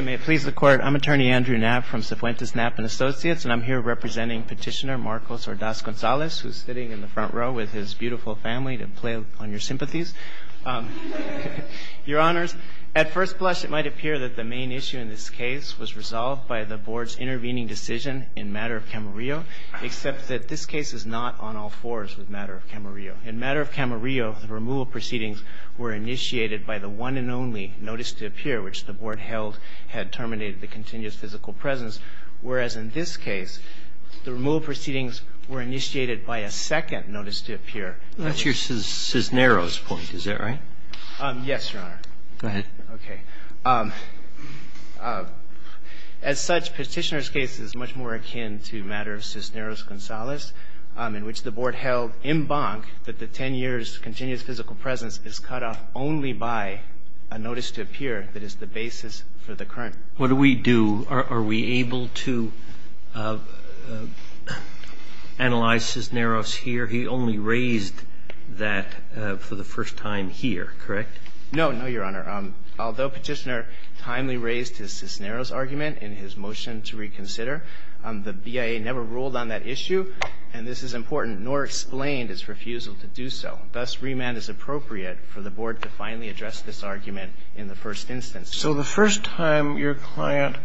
May it please the Court, I'm Attorney Andrew Knapp from Cifuentes, Knapp & Associates and I'm here representing Petitioner Marcos Ordaz-Gonzalez who's sitting in the front row with his beautiful family to play on your sympathies. Your Honors, at first blush it might appear that the main issue in this case was resolved by the Board's intervening decision in matter of Camarillo except that this case is not on all fours with matter of Camarillo. In matter of Camarillo, the removal proceedings were initiated by the one and only notice to appear which the Board held had terminated the continuous physical presence. Whereas in this case, the removal proceedings were initiated by a second notice to appear. That's your Cisneros point, is that right? Yes, Your Honor. Go ahead. Okay. As such, Petitioner's case is much more akin to matter of Cisneros-Gonzalez in which the Board held in bonk that the 10 years continuous physical presence is cut off only by a notice to appear that is the basis for the current. What do we do? Are we able to analyze Cisneros here? He only raised that for the first time here, correct? No, no, Your Honor. Although Petitioner timely raised his Cisneros argument in his motion to reconsider, the BIA never ruled on that issue and this is important, nor explained his refusal to do so. Thus, remand is appropriate for the Board to finally address this argument in the first instance. So the first time your client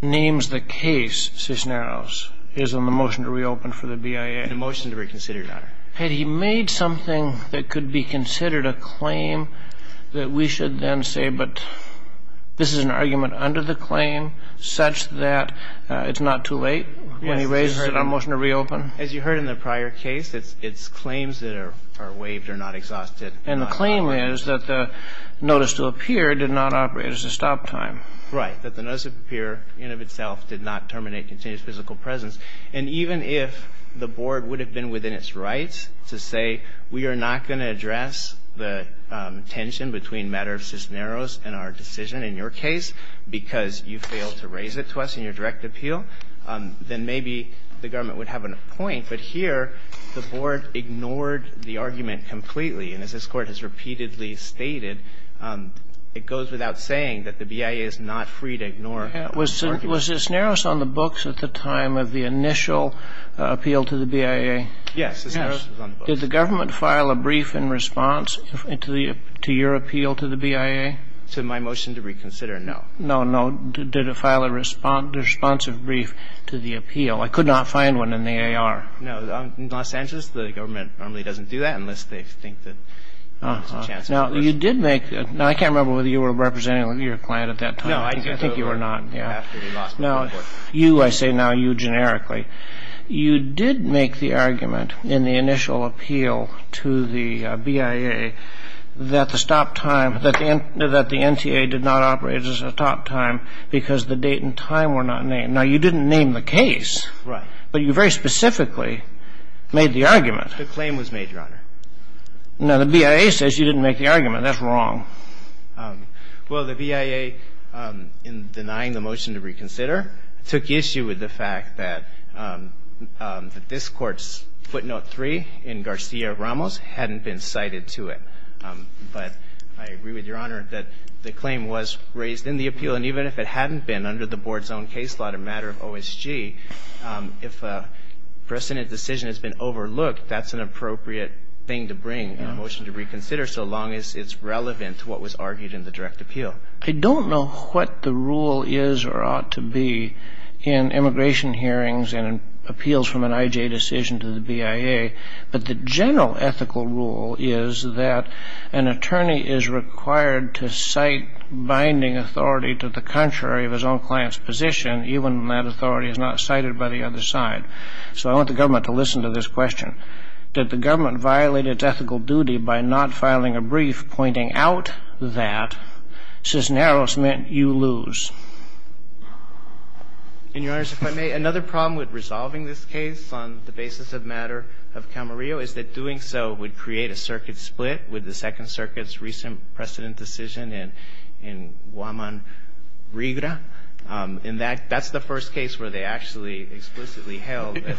names the case Cisneros is in the motion to reopen for the BIA. In the motion to reconsider, Your Honor. Had he made something that could be considered a claim that we should then say, but this is an argument under the claim such that it's not too late when he raises it on motion to reopen? As you heard in the prior case, it's claims that are waived are not exhausted. And the claim is that the notice to appear did not operate as a stop time. Right, that the notice to appear in and of itself did not terminate continuous physical presence. And even if the Board would have been within its rights to say, we are not going to address the tension between matter of Cisneros and our decision in your case, because you failed to raise it to us in your direct appeal, then maybe the government would have a point. But here, the Board ignored the argument completely. And as this Court has repeatedly stated, it goes without saying that the BIA is not free to ignore the argument. Was Cisneros on the books at the time of the initial appeal to the BIA? Yes, Cisneros was on the books. Did the government file a brief in response to your appeal to the BIA? To my motion to reconsider, no. No, no. Did it file a responsive brief to the appeal? I could not find one in the AR. No. In Los Angeles, the government normally doesn't do that unless they think that there's a chance of a motion. Now, you did make the – now, I can't remember whether you were representing your client at that time. No, I think I threw it over after we lost the report. No. You, I say now, you generically. You did make the argument in the initial appeal to the BIA that the stop time, that the NTA did not operate at a stop time because the date and time were not named. Now, you didn't name the case. Right. But you very specifically made the argument. The claim was made, Your Honor. Now, the BIA says you didn't make the argument. That's wrong. Well, the BIA, in denying the motion to reconsider, took issue with the fact that this Court's footnote 3 in Garcia-Ramos hadn't been cited to it. But I agree with Your Honor that the claim was raised in the appeal. And even if it hadn't been under the Board's own case law, a matter of OSG, if a precedent decision has been overlooked, that's an appropriate thing to bring in a motion to reconsider so long as it's relevant. To what was argued in the direct appeal. I don't know what the rule is or ought to be in immigration hearings and appeals from an IJ decision to the BIA. But the general ethical rule is that an attorney is required to cite binding authority to the contrary of his own client's position, even when that authority is not cited by the other side. So I want the government to listen to this question. And I think it's important that the government violate its ethical duty by not filing a brief pointing out that Cisneros meant you lose. And, Your Honors, if I may, another problem with resolving this case on the basis of matter of Camarillo is that doing so would create a circuit split with the Second Circuit's recent precedent decision in Guaman-Rigra. In that, that's the first case where they actually explicitly held that.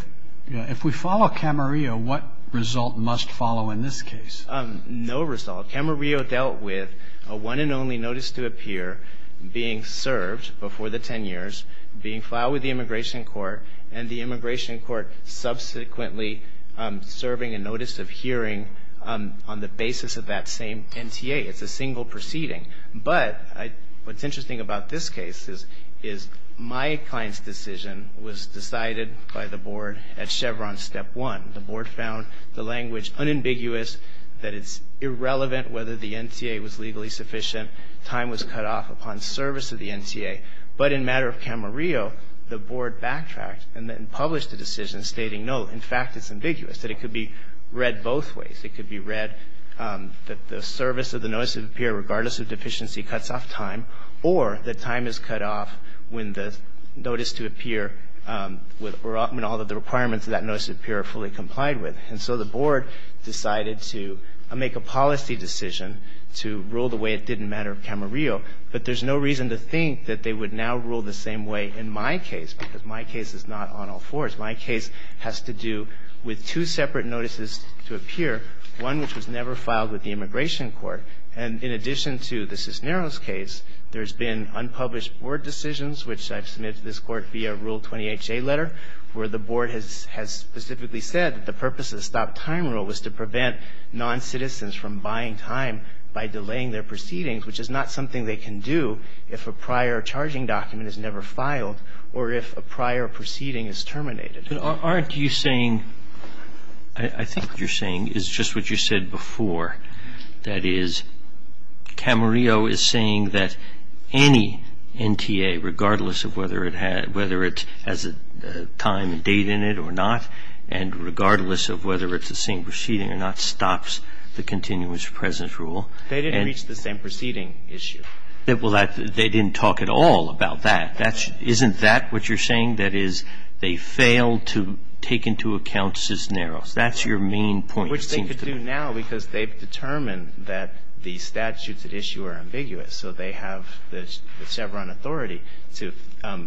If we follow Camarillo, what result must follow in this case? No result. Camarillo dealt with a one and only notice to appear being served before the 10 years, being filed with the Immigration Court, and the Immigration Court subsequently serving a notice of hearing on the basis of that same NTA. It's a single proceeding. But what's interesting about this case is my client's decision was decided by the board at Chevron step one. The board found the language unambiguous, that it's irrelevant whether the NTA was legally sufficient, time was cut off upon service of the NTA. But in matter of Camarillo, the board backtracked and then published a decision stating, no, in fact, it's ambiguous, that it could be read both ways. It could be read that the service of the notice of appear, regardless of deficiency, cuts off time, or that time is cut off when the notice to appear, when all of the requirements of that notice of appear are fully complied with. And so the board decided to make a policy decision to rule the way it did in matter of Camarillo, but there's no reason to think that they would now rule the same way in my case, because my case is not on all fours. My case has to do with two separate notices to appear, one which was never filed with the Immigration Court. And in addition to the Cisneros case, there's been unpublished board decisions, which I've submitted to this Court via Rule 20HA letter, where the board has specifically said that the purpose of the stop-time rule was to prevent noncitizens from buying time by delaying their proceedings, which is not something they can do if a prior proceeding is terminated. Roberts. Aren't you saying – I think what you're saying is just what you said before, that is, Camarillo is saying that any NTA, regardless of whether it has a time and date in it or not, and regardless of whether it's the same proceeding or not, stops the continuous presence rule. They didn't reach the same proceeding issue. Well, they didn't talk at all about that. That's – isn't that what you're saying, that is, they failed to take into account Cisneros? That's your main point, it seems to me. Which they could do now, because they've determined that the statutes at issue are ambiguous. So they have the Chevron authority to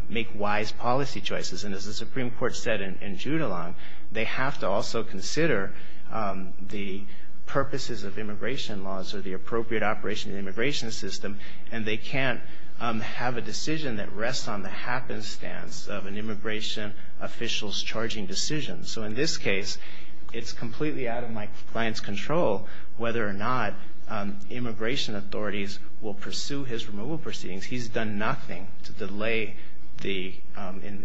make wise policy choices. And as the Supreme Court said in Judulon, they have to also consider the purposes of immigration laws or the appropriate operation of the immigration system, and they can't have a decision that rests on the happenstance of an immigration official's charging decision. So in this case, it's completely out of my client's control whether or not immigration authorities will pursue his removal proceedings. He's done nothing to delay the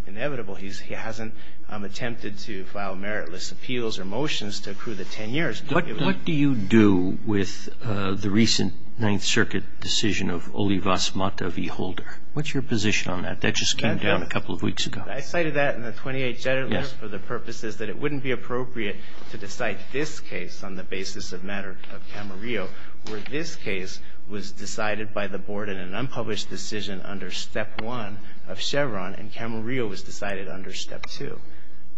inevitable. He hasn't attempted to file meritless appeals or motions to accrue the 10 years. What do you do with the recent Ninth Circuit decision of Olivas Mata v. Holder? What's your position on that? That just came down a couple of weeks ago. I cited that in the 28J letter for the purposes that it wouldn't be appropriate to decide this case on the basis of matter of Camarillo, where this case was decided by the Board in an unpublished decision under Step 1 of Chevron, and Camarillo was decided under Step 2.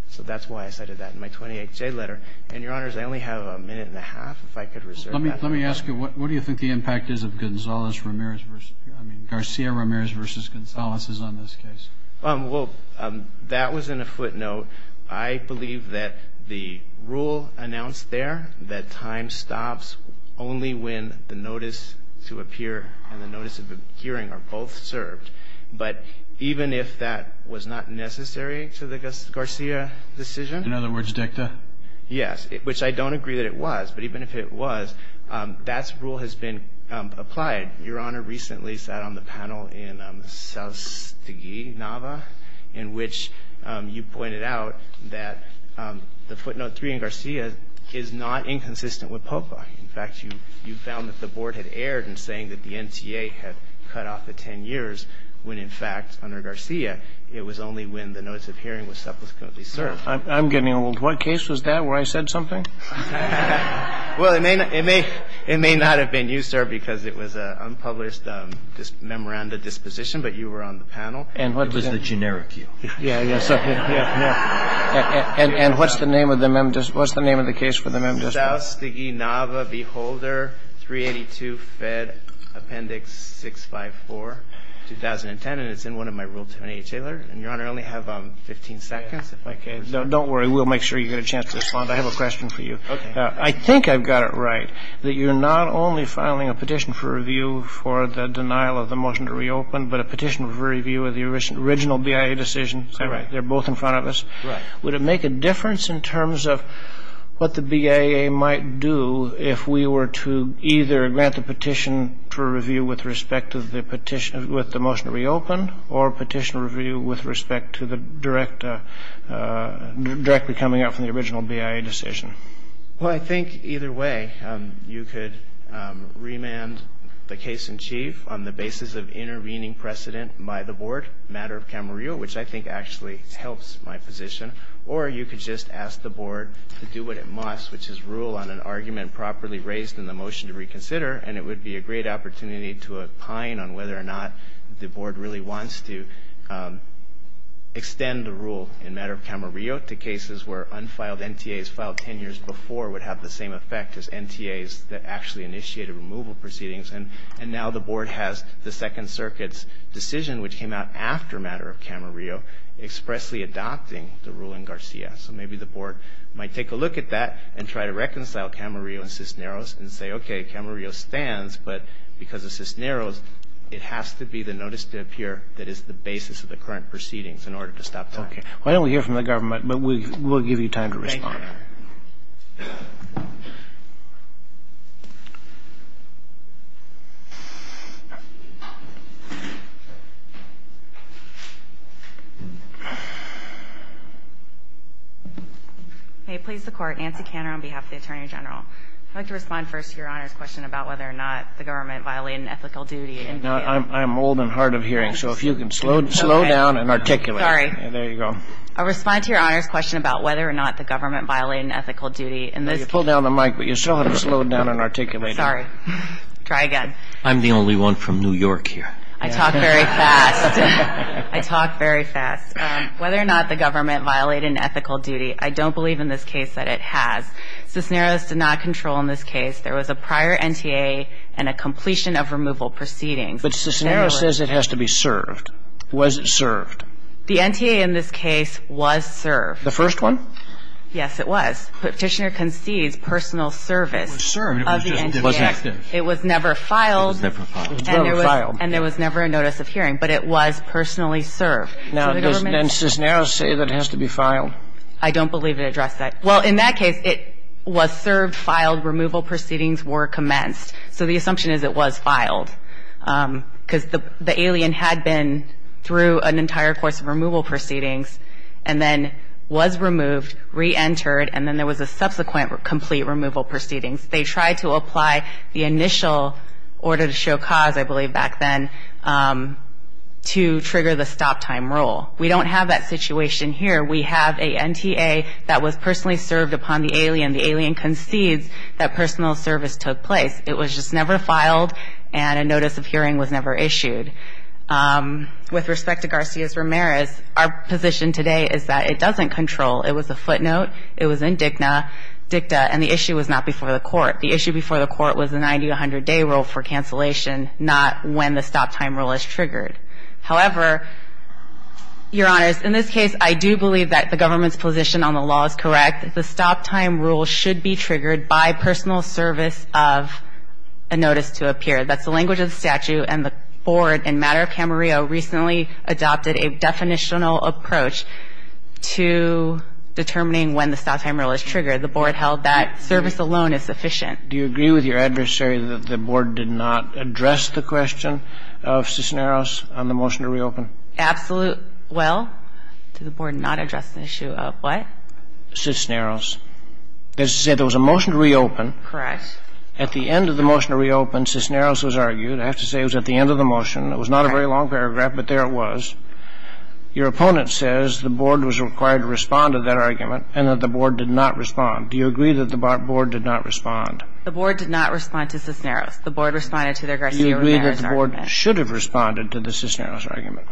So that's why I cited that in my 28J letter. And, Your Honors, I only have a minute and a half, if I could reserve that. Let me ask you, what do you think the impact is of Garcia-Ramirez v. Gonzales is on this case? Well, that was in a footnote. I believe that the rule announced there that time stops only when the notice to appear and the notice of hearing are both served. But even if that was not necessary to the Garcia decision? In other words, dicta? Yes, which I don't agree that it was. But even if it was, that rule has been applied. Your Honor recently sat on the panel in Soustegui, Nava, in which you pointed out that the footnote 3 in Garcia is not inconsistent with POPA. In fact, you found that the Board had erred in saying that the NTA had cut off the 10 years, when, in fact, under Garcia, it was only when the notice of hearing was subsequently served. I'm getting old. What case was that, where I said something? Well, it may not have been you, sir, because it was an unpublished memoranda disposition, but you were on the panel. It was the generic you. Yeah, yeah. And what's the name of the case for the Member's District? Soustegui, Nava, Beholder, 382, Fed, Appendix 654, 2010. And it's in one of my Rule 28A letters. And, Your Honor, I only have 15 seconds, if I could. Don't worry. We'll make sure you get a chance to respond. I have a question for you. I think I've got it right, that you're not only filing a petition for review for the denial of the motion to reopen, but a petition for review of the original BIA decision. They're both in front of us. Would it make a difference in terms of what the BIA might do if we were to either grant the petition for review with respect to the motion to reopen, or petition review with respect to the directly coming out from the original BIA decision? Well, I think either way. You could remand the case in chief on the basis of intervening precedent by the board, matter of Camarillo, which I think actually helps my position. Or you could just ask the board to do what it must, which is rule on an argument properly raised in the motion to reconsider. And it would be a great opportunity to opine on whether or not the board really wants to extend the rule in matter of Camarillo to cases where unfiled NTAs filed 10 years before would have the same effect as NTAs that actually initiated removal proceedings. And now the board has the Second Circuit's decision, which came out after matter of Camarillo, expressly adopting the rule in Garcia. So maybe the board might take a look at that and try to reconcile Camarillo and Cisneros and say, OK, Camarillo stands. But because of Cisneros, it has to be the notice to appear that is the basis of the current proceedings in order to stop talking. Why don't we hear from the government? But we will give you time to respond. Hey, please, the court. Nancy Canner on behalf of the Attorney General. I'd like to respond first to your Honor's question about whether or not the government violated an ethical duty. Now, I'm old and hard of hearing. So if you can slow down and articulate. Sorry. There you go. I'll respond to your Honor's question about whether or not the government violated an ethical duty. And this. Pull down the mic, but you still have to slow down and articulate. Sorry. Try again. I'm the only one from New York here. I talk very fast. I talk very fast. Whether or not the government violated an ethical duty. I don't believe in this case that it has. Cisneros did not control in this case. There was a prior NTA and a completion of removal proceedings. But Cisneros says it has to be served. Was it served? The NTA in this case was served. The first one? Yes, it was. Petitioner concedes personal service. It was served. It was never filed. It was never filed. And there was never a notice of hearing. But it was personally served. Now, does Cisneros say that it has to be filed? I don't believe it addressed that. Well, in that case, it was served, filed. Removal proceedings were commenced. So the assumption is it was filed. Because the alien had been through an entire course of removal proceedings. And then was removed, re-entered. And then there was a subsequent complete removal proceedings. They tried to apply the initial order to show cause, I believe back then, to trigger the stop time rule. We don't have that situation here. We have a NTA that was personally served upon the alien. The alien concedes that personal service took place. It was just never filed, and a notice of hearing was never issued. With respect to Garcia-Ramirez, our position today is that it doesn't control. It was a footnote. It was in dicta, and the issue was not before the court. The issue before the court was a 90 to 100 day rule for cancellation, not when the stop time rule is triggered. However, Your Honors, in this case, I do believe that the government's position on the law is correct. The stop time rule should be triggered by personal service of a notice to appear. That's the language of the statute, and the board in matter of Camarillo recently adopted a definitional approach to determining when the stop time rule is triggered. The board held that service alone is sufficient. Do you agree with your adversary that the board did not address the question of Cisneros on the motion to reopen? Absolutely. Well, did the board not address the issue of what? Cisneros. That is to say, there was a motion to reopen. Correct. At the end of the motion to reopen, Cisneros was argued. I have to say it was at the end of the motion. It was not a very long paragraph, but there it was. Your opponent says the board was required to respond to that argument, and that the board did not respond. Do you agree that the board did not respond? The board did not respond to Cisneros. The board responded to their Garcia Rivera's argument. Do you agree that the board should have responded to the Cisneros argument?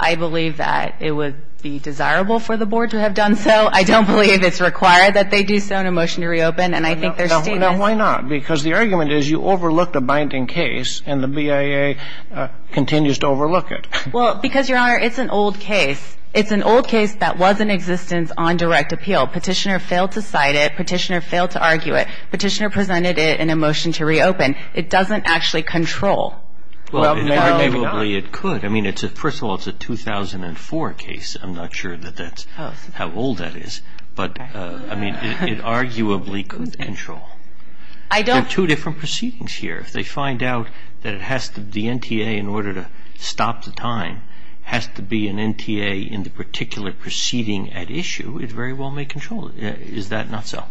I believe that it would be desirable for the board to have done so. I don't believe it's required that they do so in a motion to reopen, and I think they're stupid. Now, why not? Because the argument is you overlooked a binding case, and the BIA continues to overlook it. Well, because, Your Honor, it's an old case. It's an old case that was in existence on direct appeal. Petitioner failed to cite it. Petitioner failed to argue it. Petitioner presented it in a motion to reopen. It doesn't actually control. Well, maybe not. Arguably, it could. I mean, first of all, it's a 2004 case. I'm not sure that that's how old that is. But, I mean, it arguably could control. There are two different proceedings here. If they find out that the NTA, in order to stop the time, has to be an NTA in the particular proceeding at issue, it very well may control it. Is that not so?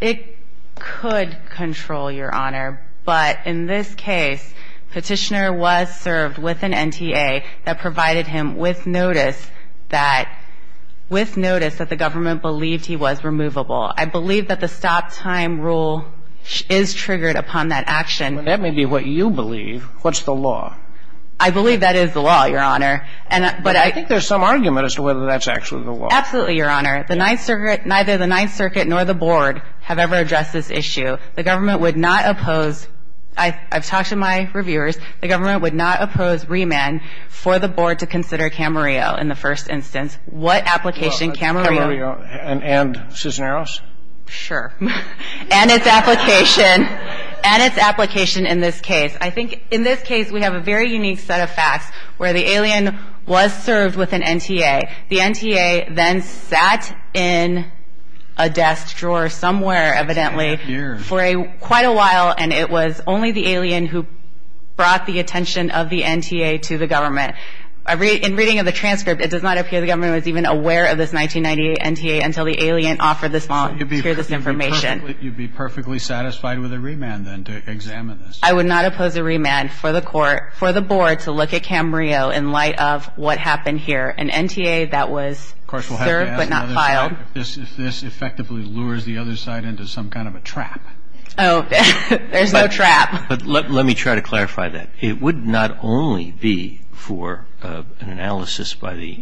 It could control, Your Honor. But in this case, Petitioner was served with an NTA that provided him with notice that the government believed he was removable. I believe that the stop time rule is triggered upon that action. That may be what you believe. What's the law? I believe that is the law, Your Honor. But I think there's some argument as to whether that's actually the law. Absolutely, Your Honor. The Ninth Circuit, neither the Ninth Circuit nor the board have ever addressed this issue. The government would not oppose. I've talked to my reviewers. The government would not oppose remand for the board to consider Camarillo in the first instance. What application Camarillo. Camarillo and Cisneros? Sure. And its application. And its application in this case. I think in this case, we have a very unique set of facts where the alien was served with an NTA. The NTA then sat in a desk drawer somewhere, evidently, for quite a while. And it was only the alien who brought the attention of the NTA to the government. In reading of the transcript, it does not appear the government was even aware of this 1998 NTA until the alien offered this information. You'd be perfectly satisfied with a remand, then, to examine this? I would not oppose a remand for the court, for the board, to look at Camarillo in light of what happened here. An NTA that was served, but not filed. Of course, we'll have to ask another side if this effectively lures the other side into some kind of a trap. Oh, there's no trap. But let me try to clarify that. It would not only be for an analysis by the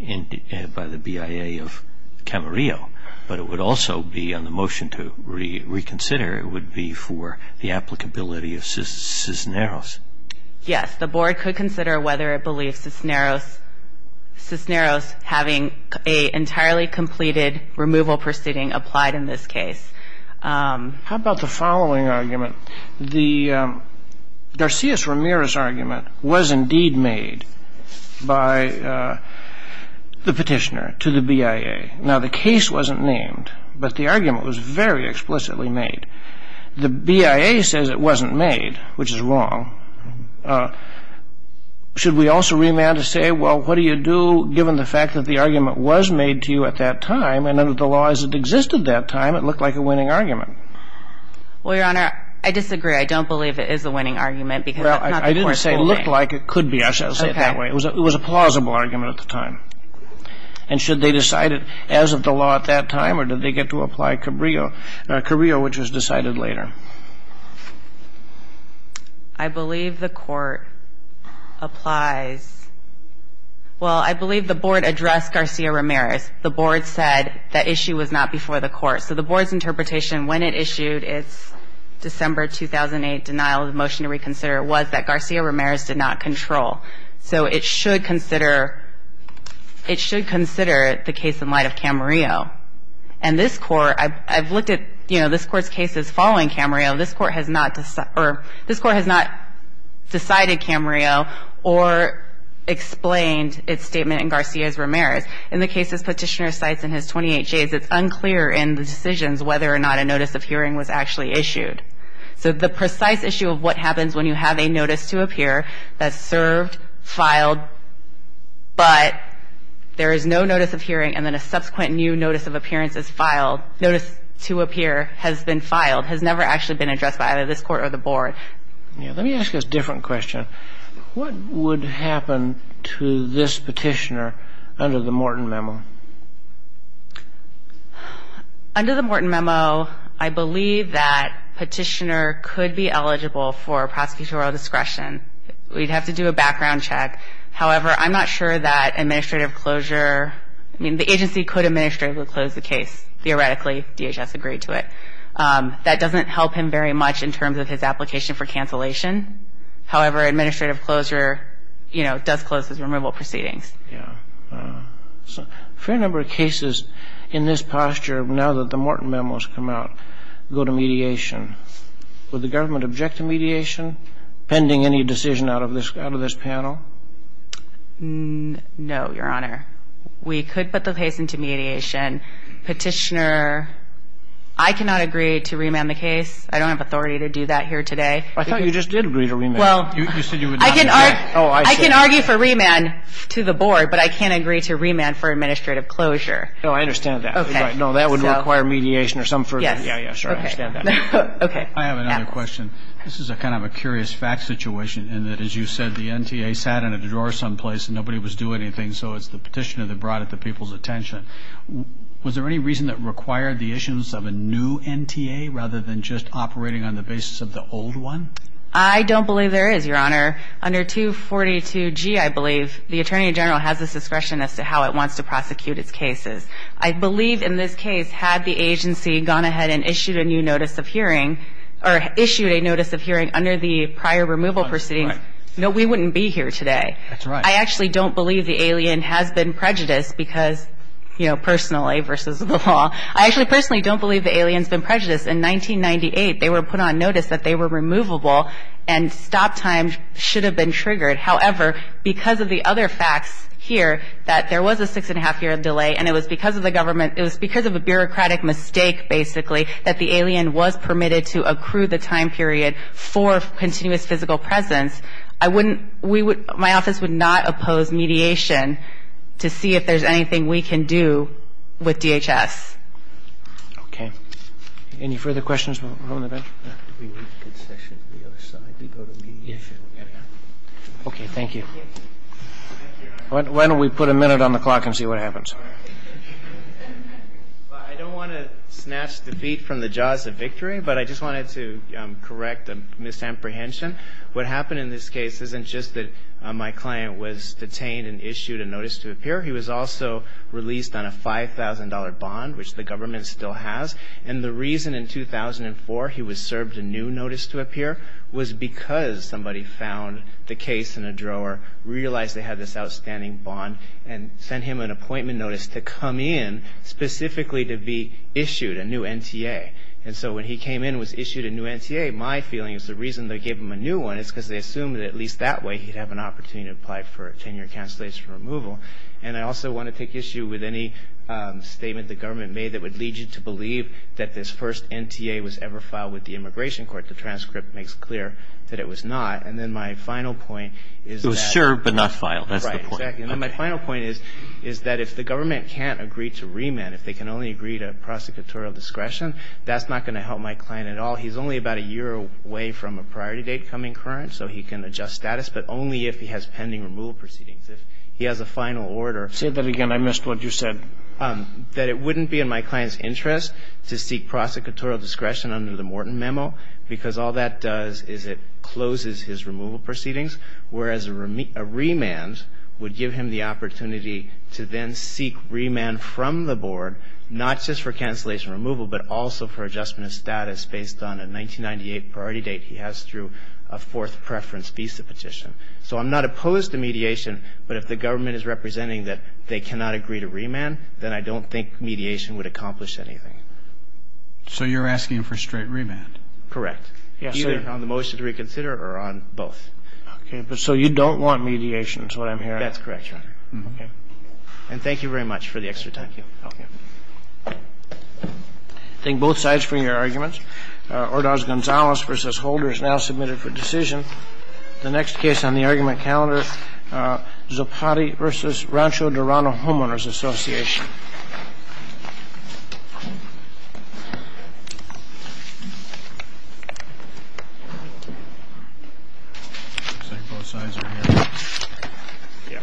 BIA of Camarillo, but it would also be, on the motion to reconsider, it would be for the applicability of Cisneros. Yes, the board could consider whether it having an entirely completed removal proceeding applied in this case. How about the following argument? The Garcia-Ramirez argument was, indeed, made by the petitioner to the BIA. Now, the case wasn't named, but the argument was very explicitly made. The BIA says it wasn't made, which is wrong. Should we also remand to say, well, what do you do, given the fact that the argument was made to you at that time, and that the law as it existed at that time, it looked like a winning argument? Well, Your Honor, I disagree. I don't believe it is a winning argument, because that's not the court's ruling. Well, I didn't say it looked like it could be. I'll say it that way. It was a plausible argument at the time. And should they decide it as of the law at that time, or did they get to apply Cabrillo, which was decided later? I believe the court applies. Well, I believe the board addressed Garcia-Ramirez. The board said the issue was not before the court. So the board's interpretation when it issued its December 2008 denial of the motion to reconsider was that Garcia-Ramirez did not control. So it should consider the case in light of Camarillo. And this court, I've looked at this court's cases following Camarillo. This court has not decided Camarillo, or explained its statement in Garcia-Ramirez. In the cases Petitioner cites in his 28 days, it's unclear in the decisions whether or not a notice of hearing was actually issued. So the precise issue of what happens when you have a notice to appear that's served, filed, but there is no notice of hearing, and then a subsequent new notice of appearance is filed, notice to appear has been filed, has never actually been addressed by either this court or the board. Let me ask a different question. What would happen to this Petitioner under the Morton Memo? Under the Morton Memo, I believe that Petitioner could be eligible for prosecutorial discretion. We'd have to do a background check. However, I'm not sure that administrative closure, I mean, the agency could administratively close the case. Theoretically, DHS agreed to it. That doesn't help him very much in terms of his application for cancellation. However, administrative closure does close his removal proceedings. Fair number of cases in this posture, now that the Morton Memo has come out, go to mediation. Would the government object to mediation, pending any decision out of this panel? No, Your Honor. We could put the case into mediation. Petitioner, I cannot agree to remand the case. I don't have authority to do that here today. I thought you just did agree to remand. You said you would not. I can argue for remand to the board, but I can't agree to remand for administrative closure. No, I understand that. No, that would require mediation or some further. Yeah, yeah, sure, I understand that. I have another question. This is a kind of a curious fact situation in that, as you said, the NTA sat in a drawer someplace and nobody was doing anything, so it's a petitioner that brought it to people's attention. Was there any reason that required the issuance of a new NTA, rather than just operating on the basis of the old one? I don't believe there is, Your Honor. Under 242G, I believe, the Attorney General has the discretion as to how it wants to prosecute its cases. I believe, in this case, had the agency gone ahead and issued a new notice of hearing, or issued a notice of hearing under the prior removal proceedings, no, we wouldn't be here today. That's right. I actually don't believe the alien has been prejudiced because, you know, personally versus the law. I actually personally don't believe the alien's been prejudiced. In 1998, they were put on notice that they were removable and stop time should have been triggered. However, because of the other facts here, that there was a six and a half year delay, and it was because of a bureaucratic mistake, basically, that the alien was permitted to accrue the time period for continuous physical presence, I wouldn't, we would, my office would not oppose mediation to see if there's anything we can do with DHS. Okay. Any further questions, Mr. Mahone, about that? We need a good section on the other side. We go to mediation. Okay. Thank you. Why don't we put a minute on the clock and see what happens? I don't want to snatch defeat from the jaws of victory, but I just wanted to correct a misapprehension. What happened in this case isn't just that my client was detained and issued a notice to appear. He was also released on a $5,000 bond, which the government still has. And the reason in 2004 he was served a new notice to appear was because somebody found the case in a drawer, realized they had this outstanding bond, and sent him an appointment notice to come in specifically to be issued a new NTA. And so when he came in and was issued a new NTA, my feeling is the reason they gave him a new one is because they assumed that at least that way he'd have an opportunity to apply for a 10-year cancellation removal. And I also want to take issue with any statement the government made that would lead you to believe that this first NTA was ever filed with the Immigration Court. The transcript makes clear that it was not. And then my final point is that. It was served but not filed. That's the point. And my final point is that if the government can't agree to remand, if they can only agree to prosecutorial discretion, that's not going to help my client at all. He's only about a year away from a priority date coming current. So he can adjust status. But only if he has pending removal proceedings. If he has a final order. Say that again. I missed what you said. That it wouldn't be in my client's interest to seek prosecutorial discretion under the Morton memo because all that does is it closes his removal proceedings. Whereas a remand would give him the opportunity to then seek remand from the board, not just for cancellation removal, but also for adjustment of status based on a 1998 priority date he has through a fourth preference visa petition. So I'm not opposed to mediation. But if the government is representing that they cannot agree to remand, then I don't think mediation would accomplish anything. So you're asking for straight remand? Correct. Either on the motion to reconsider or on both. OK. So you don't want mediation is what I'm hearing. That's correct, Your Honor. OK. And thank you very much for the extra time. Thank you. OK. Thank both sides for your arguments. Ordaz-Gonzalez versus Holder is now submitted for decision. The next case on the argument calendar, Zopati versus Rancho Dorado Homeowners Association. Looks like both sides are here. Yeah.